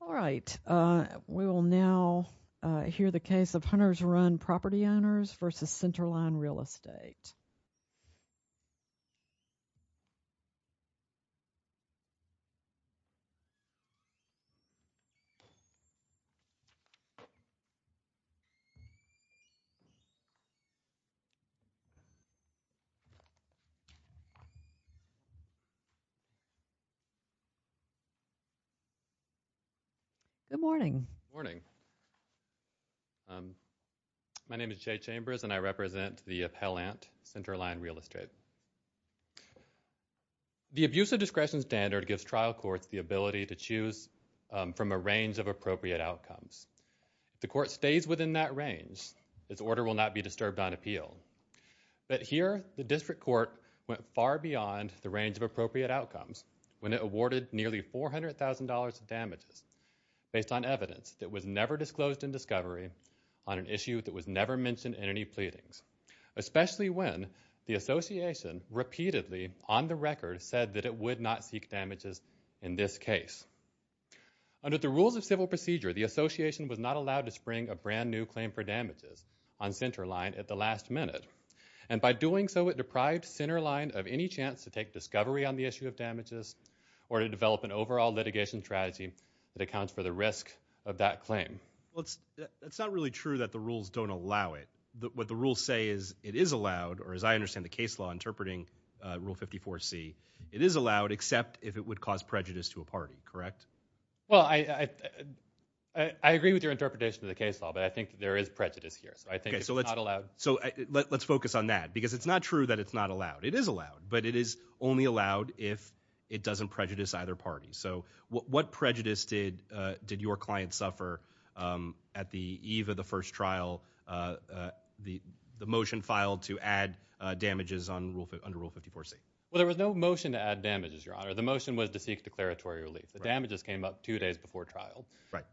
All right, we will now hear the case of Hunters Run Property Owners versus Centerline Real Estate. Good morning. Good morning. My name is Jay Chambers and I represent the Appellant, Centerline Real Estate. The abuse of discretion standard gives trial courts the ability to choose from a range of appropriate outcomes. If the court stays within that range, its order will not be disturbed on appeal. But here, the district court went far beyond the range of appropriate outcomes when it awarded nearly $400,000 in damages based on evidence that was never disclosed in discovery on an issue that was never mentioned in any pleadings, especially when the Association repeatedly, on the record, said that it would not seek damages in this case. Under the rules of civil procedure, the Association was not allowed to spring a brand new claim for damages on Centerline at the last minute. And by doing so, it deprived Centerline of any chance to take discovery on the an overall litigation strategy that accounts for the risk of that claim. Well, it's not really true that the rules don't allow it. What the rules say is it is allowed, or as I understand the case law interpreting Rule 54C, it is allowed except if it would cause prejudice to a party, correct? Well, I agree with your interpretation of the case law, but I think there is prejudice here. So I think it's not allowed. So let's focus on that, because it's not true that it's not allowed. It is allowed, but it is only allowed if it doesn't prejudice either party. So what prejudice did your client suffer at the eve of the first trial, the motion filed to add damages under Rule 54C? Well, there was no motion to add damages, Your Honor. The motion was to seek declaratory relief. The damages came up two days before trial,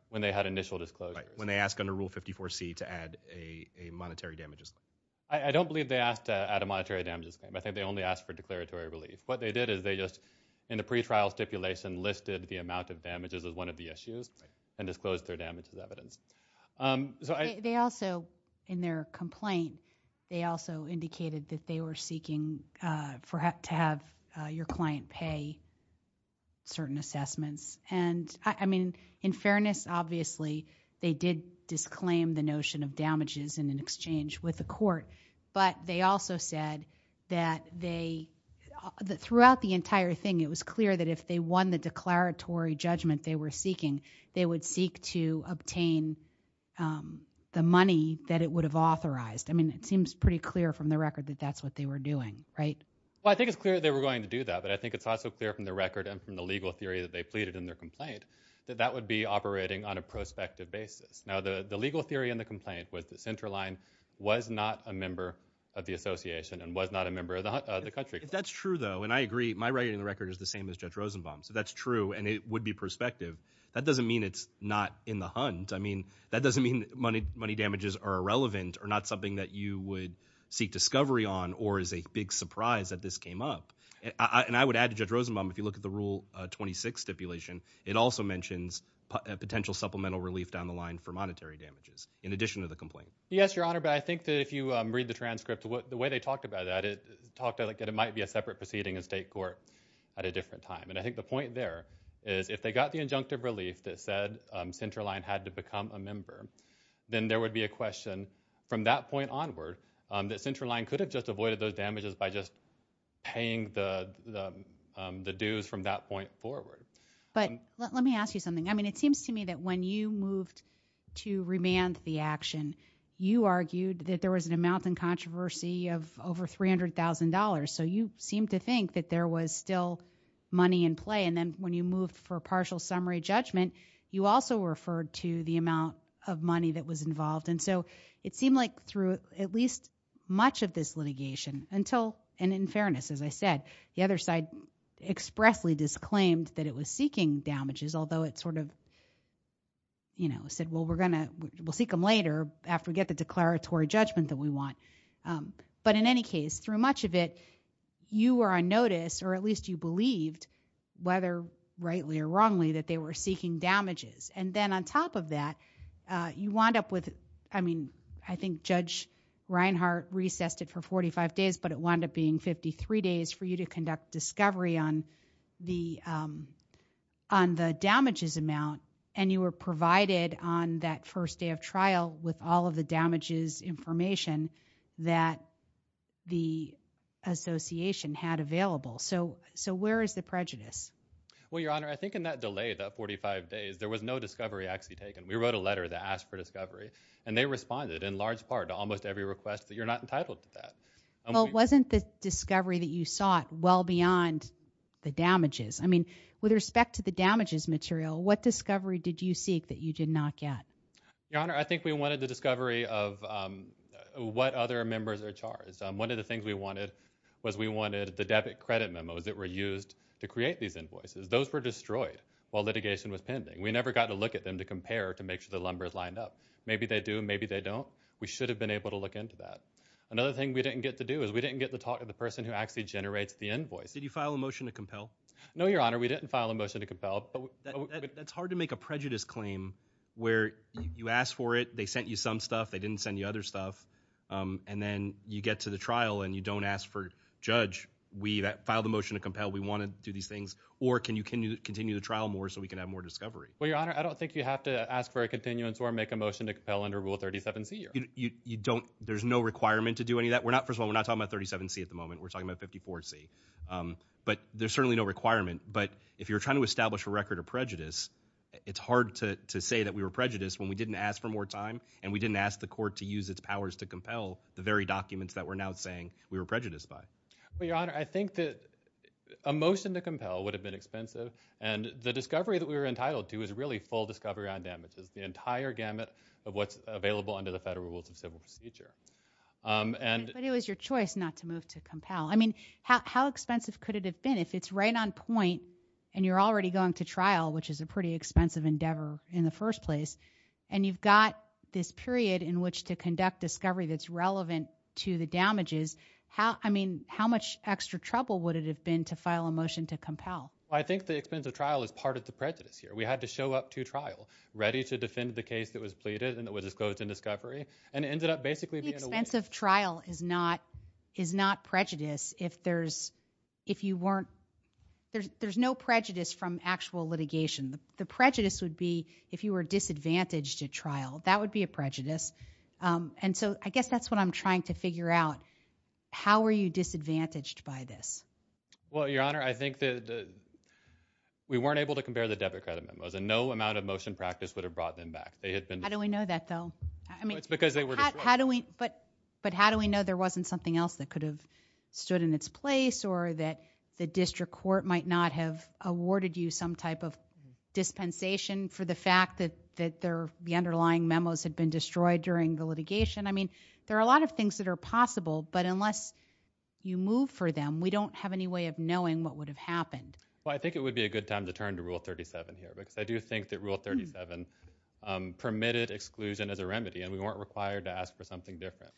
when they had initial disclosures. When they asked under Rule 54C to add a monetary damages claim. I don't believe they asked to add a monetary damages claim. I think they only asked for declaratory relief. What they did is they just, in the pre-trial stipulation, listed the amount of damages as one of the issues and disclosed their damage as evidence. They also, in their complaint, they also indicated that they were seeking to have your client pay certain assessments. And I mean, in fairness, obviously, they did disclaim the notion of damages in an exchange with the court, but they also said that they, throughout the entire thing, it was clear that if they won the declaratory judgment they were seeking, they would seek to obtain the money that it would have authorized. I mean, it seems pretty clear from the record that that's what they were doing, right? Well, I think it's clear they were going to do that, but I think it's also clear from the record and from the legal theory that they pleaded in their complaint that that would be operating on a prospective basis. Now, the legal theory in the complaint was that Centerline was not a member of the association and was not a member of the country. If that's true, though, and I agree, my writing in the record is the same as Judge Rosenbaum's. If that's true and it would be prospective, that doesn't mean it's not in the hunt. I mean, that doesn't mean money damages are irrelevant or not something that you would seek discovery on or is a big surprise that this came up. And I would add to Judge Rosenbaum, if you look at the Rule 26 stipulation, it also mentions potential supplemental relief down the line for in addition to the complaint. Yes, Your Honor, but I think that if you read the transcript, the way they talked about that, it might be a separate proceeding in state court at a different time. And I think the point there is if they got the injunctive relief that said Centerline had to become a member, then there would be a question from that point onward that Centerline could have just avoided those damages by just paying the dues from that point forward. But let me ask you something. I mean, it seems to me that when you moved to the action, you argued that there was an amount in controversy of over $300,000. So you seem to think that there was still money in play. And then when you moved for partial summary judgment, you also referred to the amount of money that was involved. And so it seemed like through at least much of this litigation until and in fairness, as I said, the other side expressly disclaimed that it was seeking damages, although it sort of, you know, said, well, we're going to seek them later after we get the declaratory judgment that we want. But in any case, through much of it, you were on notice or at least you believed, whether rightly or wrongly, that they were seeking damages. And then on top of that, you wound up with, I mean, I think Judge Reinhart recessed it for 45 days, but it wound up being 53 days for you to conduct in that first day of trial with all of the damages information that the association had available. So where is the prejudice? Well, Your Honor, I think in that delay, that 45 days, there was no discovery actually taken. We wrote a letter that asked for discovery, and they responded in large part to almost every request that you're not entitled to that. Well, wasn't the discovery that you sought well beyond the damages? I mean, with respect to the damages material, what discovery did you seek that you did not get? Your Honor, I think we wanted the discovery of what other members are charged. One of the things we wanted was we wanted the debit credit memos that were used to create these invoices. Those were destroyed while litigation was pending. We never got to look at them to compare to make sure the numbers lined up. Maybe they do, maybe they don't. We should have been able to look into that. Another thing we didn't get to do is we didn't get the talk of the person who actually generates the invoice. Did you file a motion to compel? No, Your Honor, we didn't file a motion to where you ask for it, they sent you some stuff, they didn't send you other stuff. And then you get to the trial and you don't ask for judge. We filed a motion to compel. We want to do these things. Or can you can you continue the trial more so we can have more discovery? Well, Your Honor, I don't think you have to ask for a continuance or make a motion to compel under rule 37 C. You don't. There's no requirement to do any of that. We're not. First of all, we're not talking about 37 C. At the moment, we're talking about 54 C. Um, but there's certainly no requirement. But if you're trying to we were prejudiced when we didn't ask for more time and we didn't ask the court to use its powers to compel the very documents that we're now saying we were prejudiced by. Well, Your Honor, I think that a motion to compel would have been expensive. And the discovery that we were entitled to is really full discovery on damages the entire gamut of what's available under the federal rules of civil procedure. Um, and it was your choice not to move to compel. I mean, how expensive could it have been if it's right on point and you're already going to trial, which is a pretty expensive endeavor in the first place, and you've got this period in which to conduct discovery that's relevant to the damages. How? I mean, how much extra trouble would it have been to file a motion to compel? I think the expensive trial is part of the prejudice here. We had to show up to trial ready to defend the case that was pleaded and it was disclosed in discovery and ended up basically expensive. Trial is not is not prejudice. If there's if you weren't, there's no prejudice from actual litigation. The prejudice would be if you were disadvantaged to trial, that would be a prejudice. Um, and so I guess that's what I'm trying to figure out. How are you disadvantaged by this? Well, your honor, I think that we weren't able to compare the debit credit memos and no amount of motion practice would have brought them back. They had been. How do we know that, though? I mean, it's because they were. How do we? But But how do we know there wasn't something else that could have stood in its place or that the district court might not have awarded you some type of dispensation for the fact that that there the underlying memos had been destroyed during the litigation. I mean, there are a lot of things that are possible, but unless you move for them, we don't have any way of knowing what would have happened. Well, I think it would be a good time to turn to rule 37 here because I do think that rule 37 permitted exclusion as a remedy and we weren't required to ask for something different.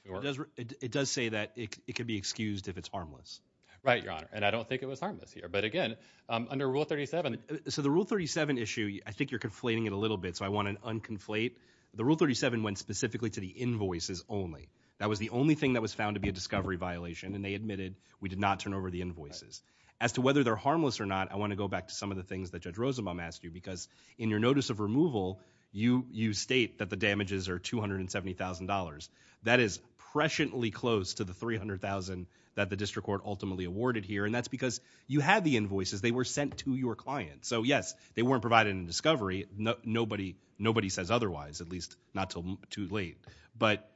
It does say that it could be excused if it's harmless, right? Your honor. And I don't think it was harmless here. But again, under rule 37. So the rule 37 issue, I think you're conflating it a little bit. So I want an unconflate. The rule 37 went specifically to the invoices only. That was the only thing that was found to be a discovery violation, and they admitted we did not turn over the invoices as to whether they're harmless or not. I want to go back to some of the things that judge Rosenbaum asked you because in your notice of removal, you you state that the damages are $270,000. That is presciently close to the 300,000 that the district court ultimately awarded here. And that's because you have the invoices. They were sent to your client. So yes, they weren't provided in discovery. Nobody, nobody says otherwise, at least not till too late. But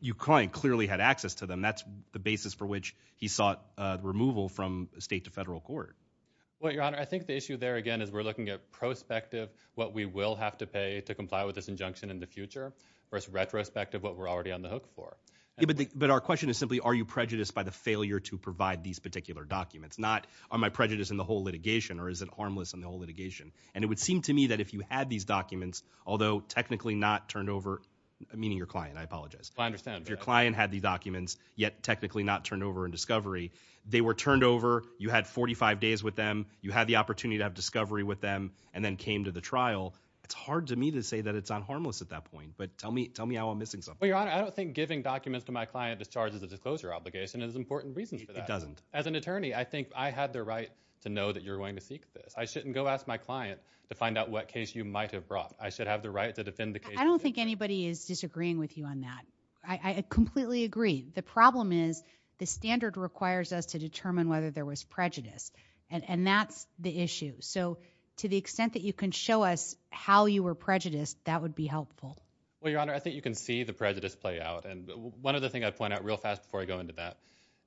you client clearly had access to them. That's the basis for which he sought removal from state to federal court. Well, your honor, I think the issue there again is we're looking at prospective what we will have to pay to comply with this injunction in the future versus retrospective what we're already on the floor. But our question is simply, are you prejudiced by the failure to provide these particular documents? Not are my prejudice in the whole litigation or is it harmless in the whole litigation? And it would seem to me that if you had these documents, although technically not turned over, meaning your client, I apologize. I understand your client had these documents yet technically not turned over in discovery. They were turned over. You had 45 days with them. You had the opportunity to have discovery with them and then came to the trial. It's hard to me to say that it's on harmless at that point. But tell me how I'm missing something. Your honor, I don't think giving documents to my client is charged as a disclosure obligation is important reasons. It doesn't as an attorney. I think I had the right to know that you're going to seek this. I shouldn't go ask my client to find out what case you might have brought. I should have the right to defend the case. I don't think anybody is disagreeing with you on that. I completely agree. The problem is the standard requires us to determine whether there was prejudice and and that's the issue. So to the extent that you can show us how you were helpful. Well, your honor, I think you can see the prejudice play out and one of the thing I point out real fast before I go into that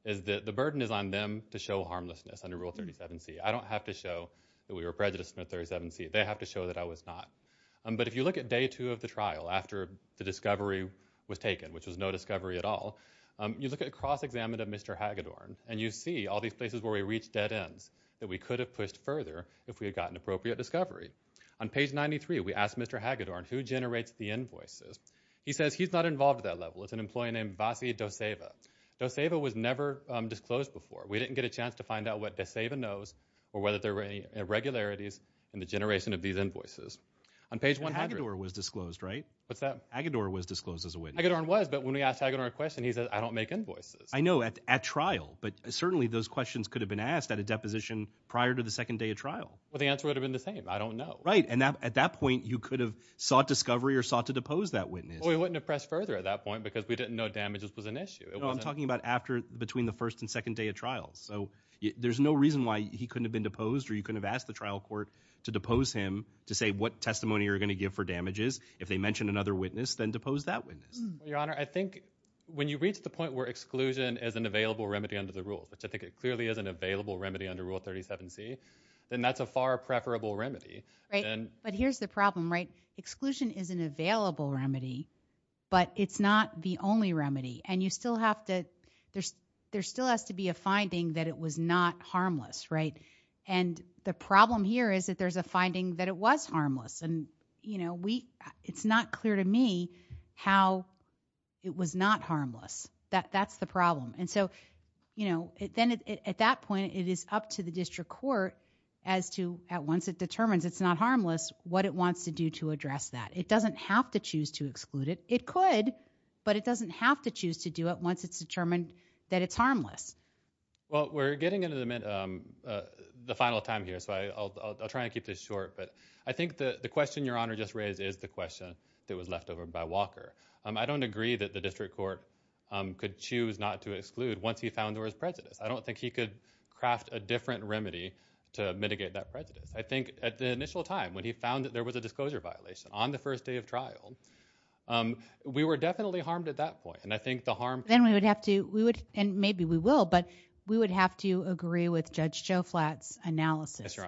is that the burden is on them to show harmlessness under rule 37 C. I don't have to show that we were prejudiced in a 37 C. They have to show that I was not. But if you look at day two of the trial after the discovery was taken, which was no discovery at all, you look at cross examined of Mr Hagedorn and you see all these places where we reached dead ends that we could have pushed further if we had gotten appropriate discovery on page 93. We asked Mr Hagedorn who generates the invoices. He says he's not involved at that level. It's an employee named Vasi Doseva. Doseva was never disclosed before. We didn't get a chance to find out what Doseva knows or whether there were any irregularities in the generation of these invoices on page 100. Hagedorn was disclosed, right? What's that? Hagedorn was disclosed as a witness. Hagedorn was, but when we asked Hagedorn a question, he said, I don't make invoices. I know at trial, but certainly those questions could have been asked at a deposition prior to the second day of trial. Well, the answer would have been the same. I don't know. Right. And at that point you could have sought discovery or sought to depose that witness. We wouldn't have pressed further at that point because we didn't know damages was an issue. I'm talking about after, between the first and second day of trials. So there's no reason why he couldn't have been deposed or you couldn't have asked the trial court to depose him to say what testimony you're going to give for damages. If they mentioned another witness, then depose that witness. Your honor, I think when you reach the point where exclusion is an available remedy under the rules, which I think it clearly is an available remedy under rule 37 C, then that's a far preferable remedy. Right. But here's the problem, right? Exclusion is an available remedy, but it's not the only remedy. And you still have to, there's, there still has to be a finding that it was not harmless. Right. And the problem here is that there's a finding that it was harmless and you know, we, it's not clear to me how it was not harmless. That's the problem. And so, you know, then at that point it is up to the district court as to at once it determines it's not harmless, what it wants to do to address that. It doesn't have to choose to exclude it. It could, but it doesn't have to choose to do it once it's determined that it's harmless. Well, we're getting into the, um, uh, the final time here. So I, I'll, I'll, I'll try and keep this short, but I think the question your honor just raised is the question that was left over by Walker. Um, I don't agree that the district court, um, could choose not to I don't think he could craft a different remedy to mitigate that prejudice. I think at the initial time when he found that there was a disclosure violation on the first day of trial, um, we were definitely harmed at that point. And I think the harm then we would have to, we would, and maybe we will, but we would have to agree with judge Joe flats analysis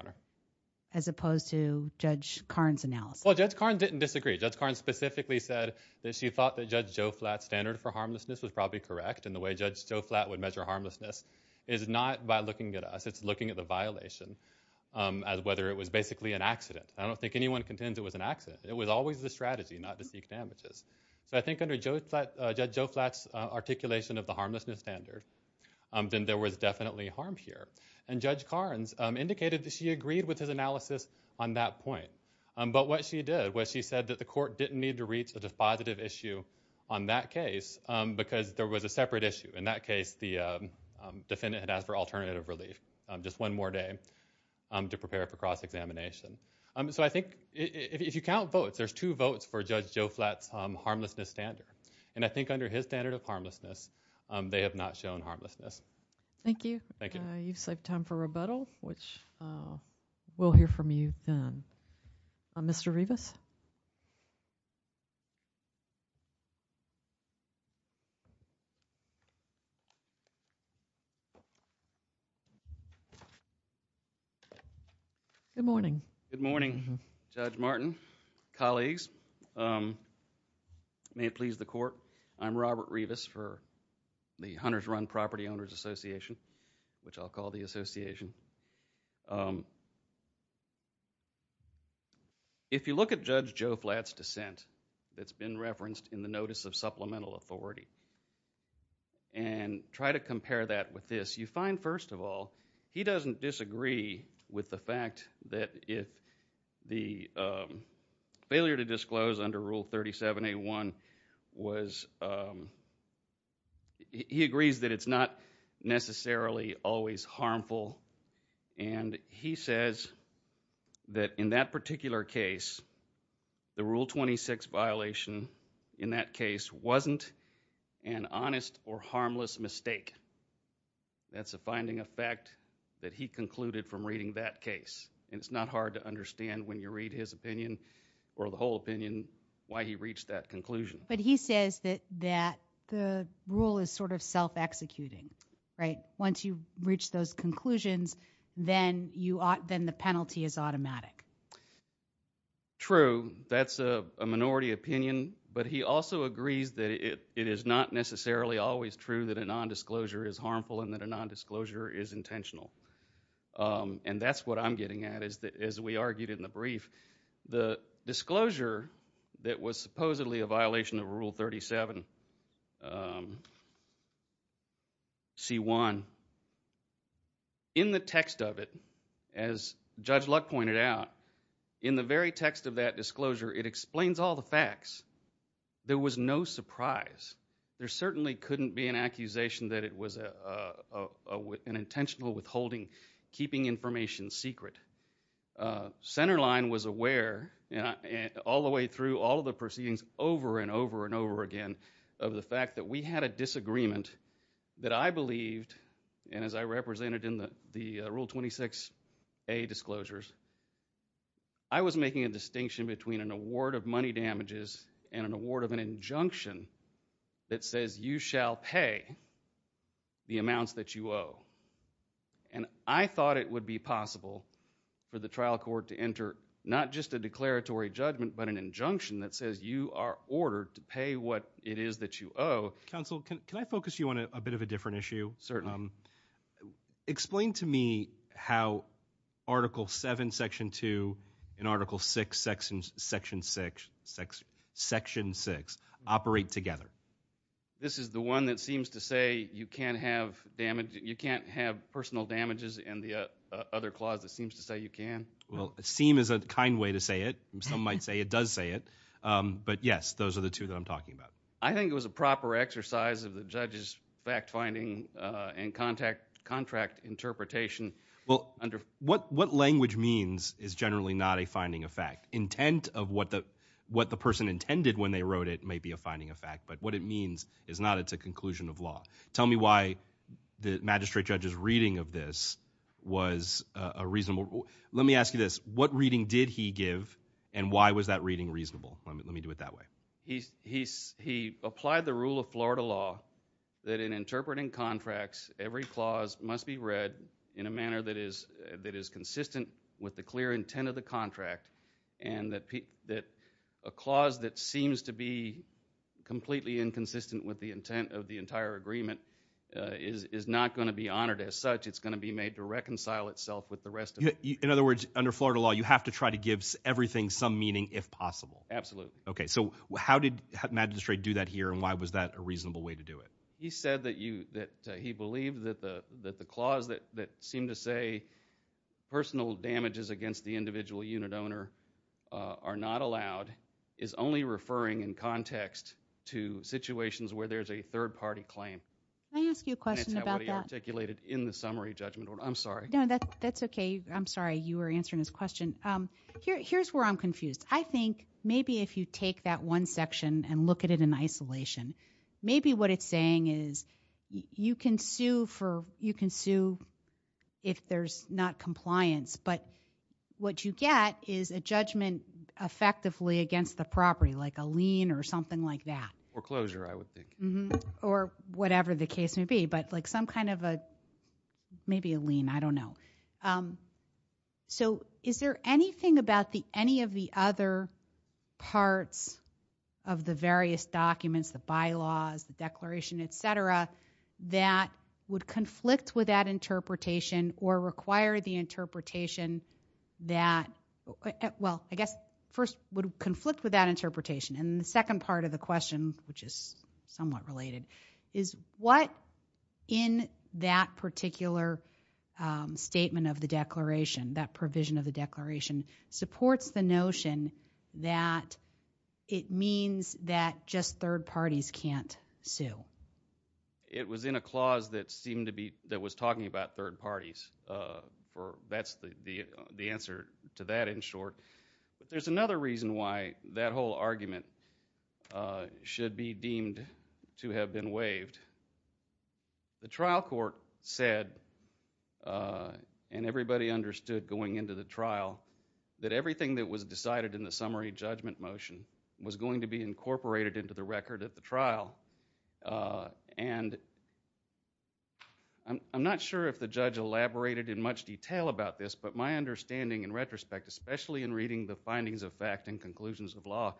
as opposed to judge Karnes analysis. Judge Karnes didn't disagree. Judge Karnes specifically said that she thought that judge Joe flats standard for harmlessness was probably correct. And the way judge Joe flat would measure harmlessness is not by looking at us. It's looking at the violation, um, as whether it was basically an accident. I don't think anyone contends it was an accident. It was always the strategy not to seek damages. So I think under Joe flat, uh, judge Joe flats, uh, articulation of the harmlessness standard, um, then there was definitely harmed here. And judge Karnes, um, indicated that she agreed with his analysis on that point. Um, but what she did was she said that the court didn't need to reach a positive issue on that case because there was a separate issue. In that case, the defendant had asked for alternative relief, just one more day to prepare for cross examination. Um, so I think if you count votes, there's two votes for judge Joe flats, um, harmlessness standard. And I think under his standard of harmlessness, um, they have not shown harmlessness. Thank you. Thank you. You've saved time for you. Good morning. Good morning, Judge Martin. Colleagues, um, may it please the court. I'm Robert Rivas for the Hunter's Run Property Owners Association, which I'll call the association. Um, if you look at Judge Joe flats dissent that's been referenced in the notice of supplemental authority and try to compare that with this, you find, first of all, he doesn't disagree with the fact that if the, um, failure to disclose under Rule 37 a one was, um, he agrees that it's not necessarily always harmful. And he says that in that particular case, the Rule 26 violation in that case wasn't an honest or harmless mistake. That's a finding of fact that he concluded from reading that case. And it's not hard to understand when you read his opinion or the whole opinion why he reached that conclusion. But he says that that the rule is sort of self executing, right? Once you reach those conclusions, then you ought, then the penalty is automatic. True. That's a minority opinion. But he also agrees that it is not necessarily always true that a nondisclosure is harmful and that a nondisclosure is intentional. Um, and that's what I'm getting at is that, as we argued in the brief, the disclosure that was supposedly a violation of Rule 37. Um, see one in the text of it, as Judge Luck pointed out in the very text of that disclosure, it explains all the facts. There was no surprise. There certainly couldn't be an accusation that it was, uh, an intentional withholding, keeping information secret. Uh, center line was aware all the way through all of the proceedings over and over and over again of the fact that we had a disagreement that I believed. And as I represented in the Rule 26 a disclosures, I was making a distinction between an award of money damages and an award of an injunction that says you shall pay the amounts that you owe. And I thought it would be possible for the trial court to enter not just a declaratory judgment, but an injunction that says you are ordered to pay what it is that you owe. Counsel, can I focus you on a bit of a different issue? Certainly explain to me how Article seven, section two in Article six sections, section six, section six operate together. This is the one that seems to say you can't have damage. You can't have personal damages in the other closet seems to say you can. Well, seem is a kind way to say it. Some might say it does say it. Um, but yes, those are the two that I'm talking about. I think it was a proper exercise of the judge's fact finding and contact contract interpretation. Well, what what language means is generally not a finding of fact intent of what the what the person intended when they wrote it may be a finding of fact. But what it means is not. It's a conclusion of law. Tell me why the magistrate judge's reading of this was a reasonable. Let me ask you this. What reading did he give and why was that reading reasonable? Let me do it that way. He's he's he applied the rule of florida law that in interpreting contracts, every clause must be read in a manner that is that is consistent with the clear intent of the contract and that that a clause that seems to be completely inconsistent with the intent of the entire agreement is not going to be honored as such. It's going to be made to reconcile itself with the rest. In other words, under florida law, you have to try to give everything some meaning if possible. Absolutely. Okay. So how did magistrate do that here and why was that a reasonable way to do it? He said that you that he believed that the that the clause that that seemed to say personal damages against the individual unit owner are not allowed is only referring in context to situations where there's a third party claim. I ask you a question about articulated in the summary judgment. I'm sorry. No, that's okay. I'm sorry you were answering this question. Um, here's where I'm confused. I think maybe if you take that one section and look at it in isolation, maybe what it's saying is you can sue for you can sue if there's not like a lien or something like that or closure I would think or whatever the case may be. But like some kind of a maybe a lien, I don't know. Um, so is there anything about the any of the other parts of the various documents, the bylaws, the declaration, et cetera, that would conflict with that interpretation or require the interpretation that well, I guess first would conflict with that interpretation. And the second part of the question, which is somewhat related, is what in that particular statement of the declaration, that provision of the declaration supports the notion that it means that just third parties can't sue. It was in a clause that seemed to be that was talking about third parties. Uh, for that's the answer to that in court. But there's another reason why that whole argument should be deemed to have been waived. The trial court said, uh, and everybody understood going into the trial that everything that was decided in the summary judgment motion was going to be incorporated into the record at the trial. Uh, and I'm not sure if the judge elaborated in much detail about this, but my understanding in reading the findings of fact and conclusions of law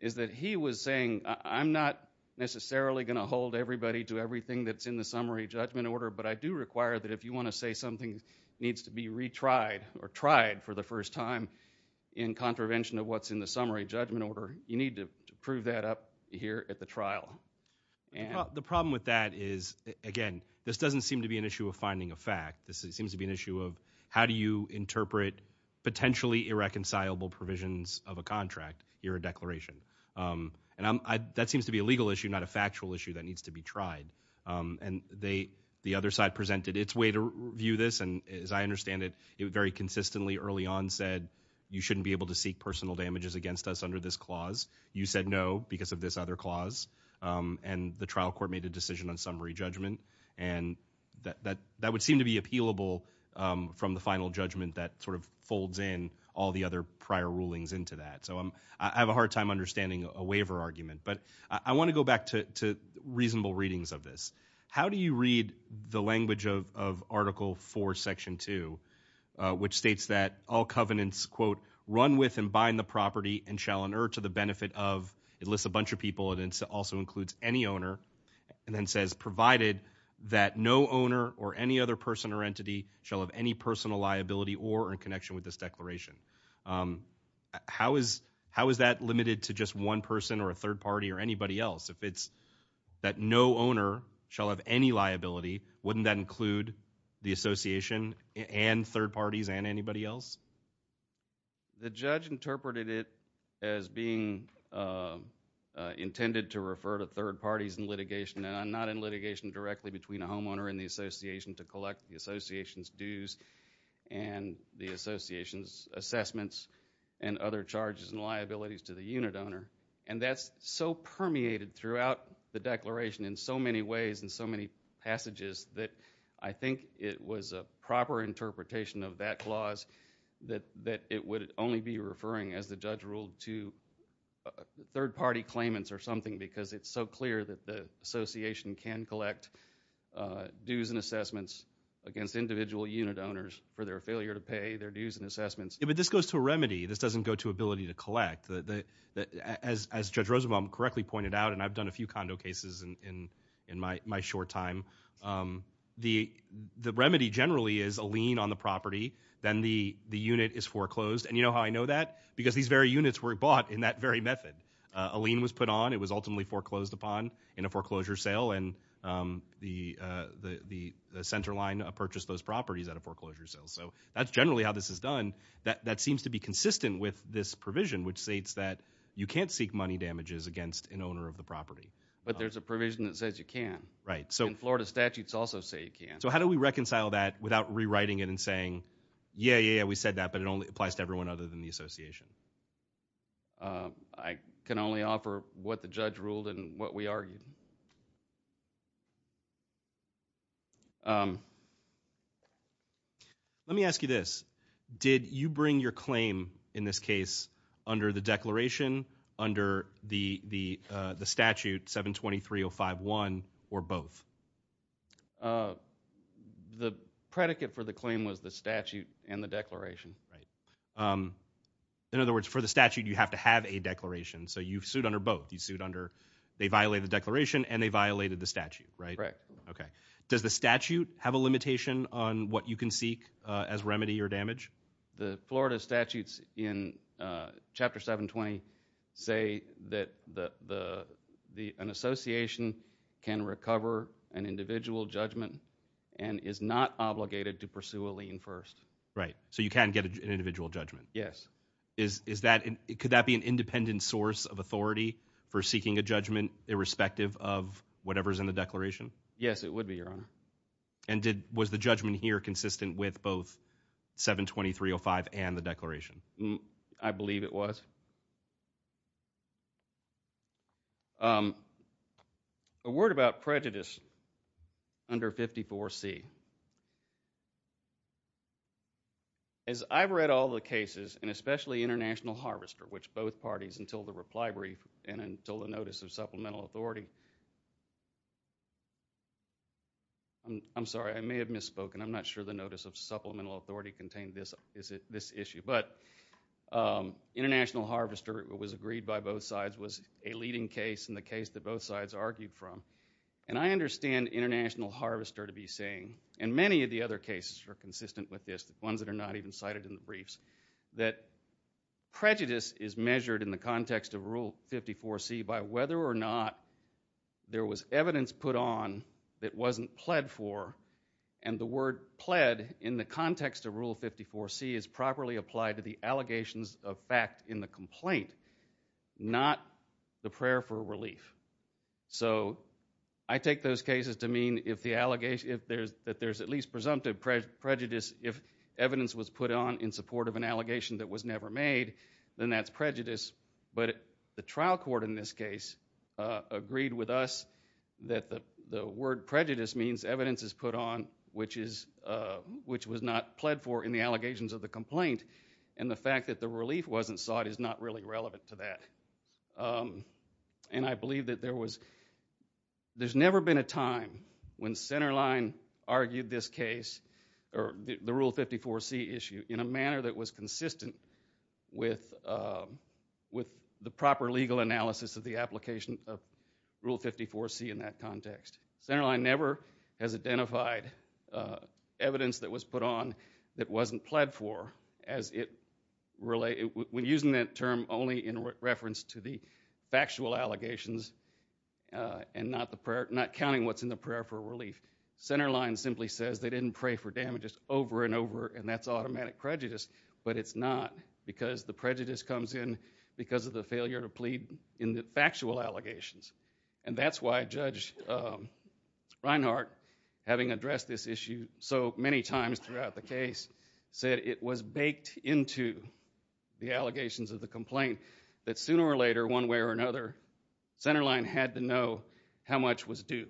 is that he was saying I'm not necessarily going to hold everybody to everything that's in the summary judgment order, but I do require that if you want to say something needs to be retried or tried for the first time in contravention of what's in the summary judgment order, you need to prove that up here at the trial. The problem with that is, again, this doesn't seem to be an issue of finding a fact. This seems to be an issue of how do you interpret potentially irreconcilable provisions of a contract here a declaration? Um, and that seems to be a legal issue, not a factual issue that needs to be tried. Um, and they, the other side presented its way to view this. And as I understand it, it very consistently early on said you shouldn't be able to seek personal damages against us under this clause. You said no because of this other clause. Um, and the trial court made a decision on summary judgment and that that would seem to be appealable from the final judgment that sort of folds in all the other prior rulings into that. So I'm, I have a hard time understanding a waiver argument, but I want to go back to reasonable readings of this. How do you read the language of, of article four section two, which states that all covenants quote run with and bind the property and shall inert to the benefit of, it lists a bunch of people and also includes any owner and then says provided that no owner or any other person or entity shall have any personal liability or in connection with this declaration. Um, how is, how is that limited to just one person or a third party or anybody else? If it's that no owner shall have any liability, wouldn't that include the association and third parties and anybody else? The judge interpreted it as being, uh, intended to refer to third parties in litigation directly between a homeowner and the association to collect the association's dues and the association's assessments and other charges and liabilities to the unit owner. And that's so permeated throughout the declaration in so many ways and so many passages that I think it was a proper interpretation of that clause that, that it would only be referring as the judge ruled to third party claimants or something because it's so clear that the association would collect, uh, dues and assessments against individual unit owners for their failure to pay their dues and assessments. Yeah, but this goes to a remedy. This doesn't go to ability to collect. The, the, as, as Judge Rosenbaum correctly pointed out, and I've done a few condo cases in, in, in my, my short time. Um, the, the remedy generally is a lien on the property. Then the, the unit is foreclosed. And you know how I know that? Because these very units were bought in that very method. A lien was made. Um, the, uh, the, the, the center line, uh, purchased those properties at a foreclosure sale. So that's generally how this is done. That, that seems to be consistent with this provision, which states that you can't seek money damages against an owner of the property. But there's a provision that says you can, right? So Florida statutes also say you can. So how do we reconcile that without rewriting it and saying, yeah, yeah, yeah, we said that, but it only applies to everyone other than the association. Um, I can only offer what the judge ruled and what we argued. Um, let me ask you this. Did you bring your claim in this case under the declaration, under the, the, uh, the statute 723-051 or both? Uh, the predicate for the claim was the statute and the declaration. Right. Um, in other words, for the statute, you have to have a declaration. So you've sued under both. You sued under, they violated the declaration and they violated the statute, right? Okay. Does the statute have a limitation on what you can seek as remedy or damage? The Florida statutes in chapter 720 say that the, the, the, an association can recover an individual judgment and is not obligated to pursue a lien first. Right. So you can get an individual judgment. Yes. Is, is that, could that be an independent source of authority for seeking a judgment irrespective of whatever's in the declaration? Yes, it would be your honor. And did, was the judgment here consistent with both 720-305 and the declaration? I believe it was. Um, a word about prejudice under 54 C. As I've read all the cases and especially international harvester, which both parties until the reply brief and until the notice of supplemental authority. I'm sorry. I may have misspoken. I'm not sure the notice of supplemental authority contained this, is it this issue, but, um, international harvester was agreed by both sides was a leading case in the case that both sides argued from. And I understand international harvester to be saying, and many of the other cases are consistent with this, the ones that are not even cited in the briefs, that prejudice is measured in the context of rule 54 C by whether or not there was evidence put on that wasn't pled for. And the word pled in the context of rule 54 C is properly applied to the allegations of fact in the complaint, not the prayer for relief. So I take those cases to mean if the presumptive prejudice, if evidence was put on in support of an allegation that was never made, then that's prejudice. But the trial court in this case, uh, agreed with us that the word prejudice means evidence is put on, which is, uh, which was not pled for in the allegations of the complaint. And the fact that the relief wasn't sought is not really relevant to that. Um, and I never been a time when center line argued this case or the rule 54 C issue in a manner that was consistent with, uh, with the proper legal analysis of the application of rule 54 C. In that context, center line never has identified, uh, evidence that was put on that wasn't pled for as it relate when using that term only in reference to the factual allegations, uh, and not the not counting what's in the prayer for relief. Center line simply says they didn't pray for damages over and over, and that's automatic prejudice. But it's not because the prejudice comes in because of the failure to plead in the factual allegations. And that's why Judge, um, Reinhart, having addressed this issue so many times throughout the case, said it was baked into the allegations of the complaint that sooner or later, one way or another, center line had to know how much was due.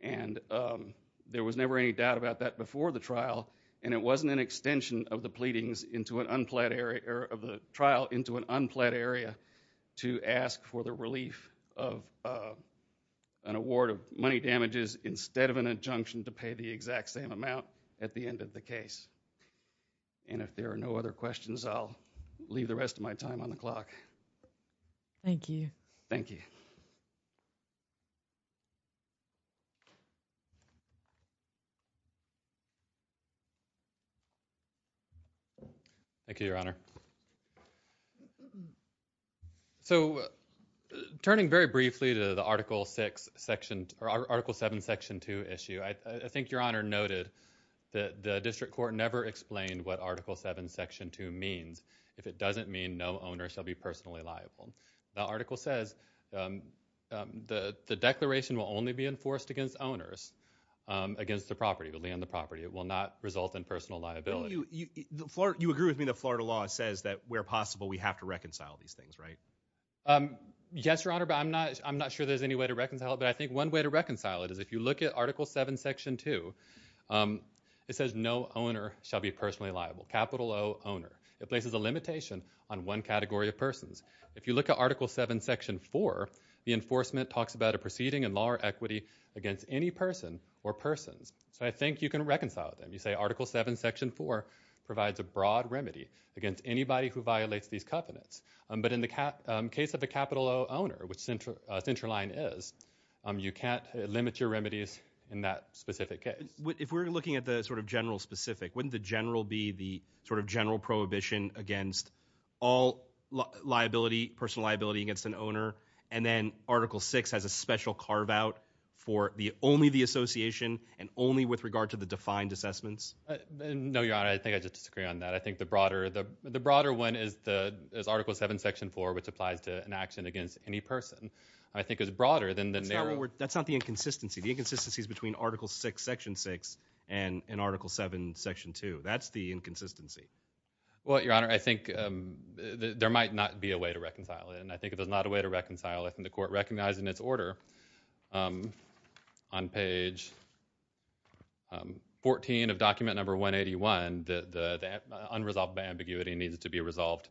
And, um, there was never any doubt about that before the trial, and it wasn't an extension of the pleadings into an unplanned area of the trial into an unplanned area to ask for the relief of, uh, an award of money damages instead of an injunction to pay the exact same amount at the end of the case. And if there are no other questions, I'll leave the rest of my time on the clock. Thank you. Thank you. Thank you, Your Honor. So turning very briefly to the Article six section or Article seven Section two issue, I think Your Honor noted that the district court never explained what Article seven Section two means. If it doesn't mean no owner shall be personally liable. The article says, um, the declaration will only be enforced against owners against the property to land the property. It will not result in personal liability. You agree with me. The Florida law says that where possible, we have to reconcile these things, right? Um, yes, Your Honor. But I'm not. I'm not sure there's any way to reconcile it. But I think one way to reconcile it is if you look at Article seven Section two, um, it says no owner shall be personally liable. Capital owner. It places a category of persons. If you look at Article seven Section four, the enforcement talks about a proceeding and lower equity against any person or persons. So I think you can reconcile them. You say Article seven Section four provides a broad remedy against anybody who violates these covenants. But in the case of the capital owner, which central line is, um, you can't limit your remedies in that specific case. If we're looking at the sort of general specific, wouldn't the general be the sort of general prohibition against all liability, personal liability against an owner? And then Article six has a special carve out for the only the association and only with regard to the defined assessments. No, Your Honor. I think I just disagree on that. I think the broader the broader one is the is Article seven Section four, which applies to an action against any person, I think is broader than that. That's not the inconsistency. The inconsistencies between Article six Section six and in Article seven Section two. That's the inconsistency. Well, Your Honor, I think there might not be a way to reconcile it. And I think there's not a way to reconcile it in the court recognizing its order. Um, on page 14 of document number 1 81. The unresolved ambiguity needs to be resolved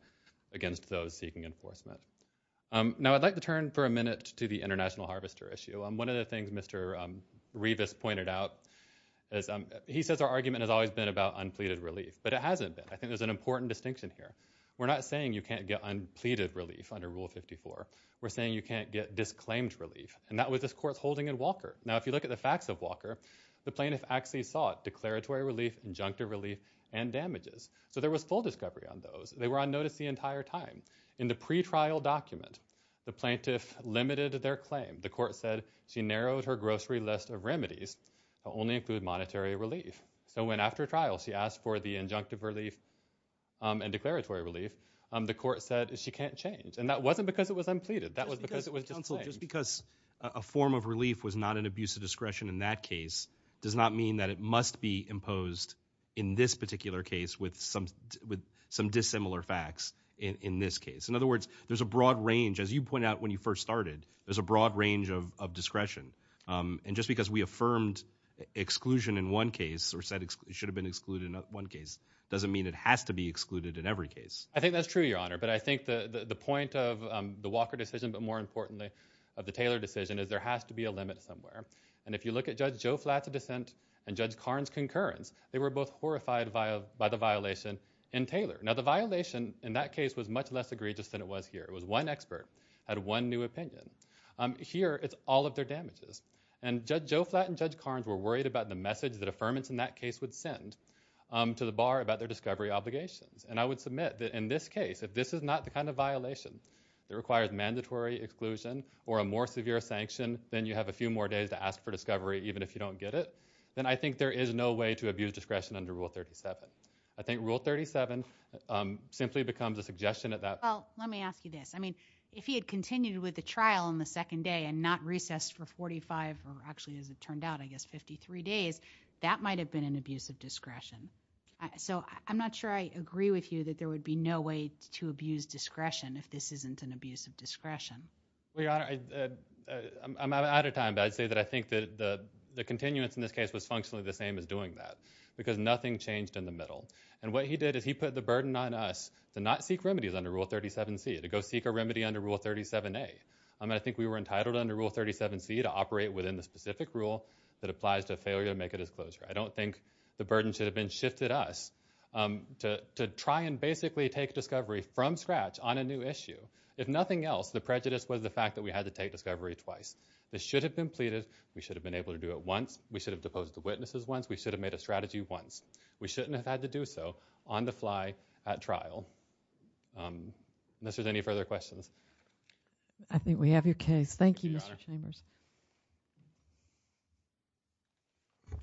against those seeking enforcement. Um, now I'd like to turn for a minute to the international harvester issue. I'm one of the things Mr Revis pointed out is he says our argument has always been about unpleaded relief, but it hasn't been. I think there's an important distinction here. We're not saying you can't get unpleaded relief under Rule 54. We're saying you can't get disclaimed relief. And that was this court's holding in Walker. Now, if you look at the facts of Walker, the plaintiff actually sought declaratory relief, injunctive relief and damages. So there was full discovery on those. They were on notice the entire time in the pretrial document. The plaintiff limited their claim. The court said she narrowed her grocery list of remedies only include monetary relief. So when after trial, she asked for the injunctive relief and declaratory relief, the court said she can't change. And that wasn't because it was unpleaded. That was because it was just because a form of relief was not an abuse of discretion in that case does not mean that it must be imposed in this particular case with some with some dissimilar facts in this case. In other words, there's a broad range. As you point out, when you first started, there's a broad range of discretion. Um, and just because we affirmed exclusion in one case or said it should have been excluded in one case doesn't mean it has to be excluded in every case. I think that's true, Your Honor. But I think the point of the Walker decision, but more importantly, of the Taylor decision is there has to be a limit somewhere. And if you look at Judge Joe flat to dissent and Judge Carnes concurrence, they were both horrified via by the violation in Taylor. Now, the violation in that case was much less egregious than it was here. It was one expert had one new opinion. Um, here it's all of their damages. And Judge Joe Flatton, Judge Carnes were worried about the message that affirmance in that case would send, um, to the bar about their discovery obligations. And I would submit that in this case, if this is not the kind of violation that requires mandatory exclusion or a more severe sanction than you have a few more days to ask for discovery, even if you don't get it, then I think there is no way to abuse discretion under Rule 37. I think Rule 37 simply becomes a suggestion that that well, let me ask you this. I mean, if he had continued with the trial on the second day and not recessed for 45 or actually, as it turned out, I guess, 53 days that might have been an abuse of discretion. So I'm not sure I agree with you that there would be no way to abuse discretion if this isn't an abuse of discretion. We are. I'm out of time. But I'd say that I think that the continuance in this case was functionally the same is doing that because nothing changed in the middle. And what he did is he put the burden on us to not seek remedies under Rule 37 C to go seek a remedy under Rule 37 A. I mean, I think we were entitled under Rule 37 C to that applies to failure to make a disclosure. I don't think the burden should have been shifted us, um, to try and basically take discovery from scratch on a new issue. If nothing else, the prejudice was the fact that we had to take discovery twice. This should have been pleaded. We should have been able to do it once. We should have deposed the witnesses once. We should have made a strategy once. We shouldn't have had to do so on the fly at trial. Um, this is any further questions. I think we have your case. Thank you, Mr Chambers. Yeah.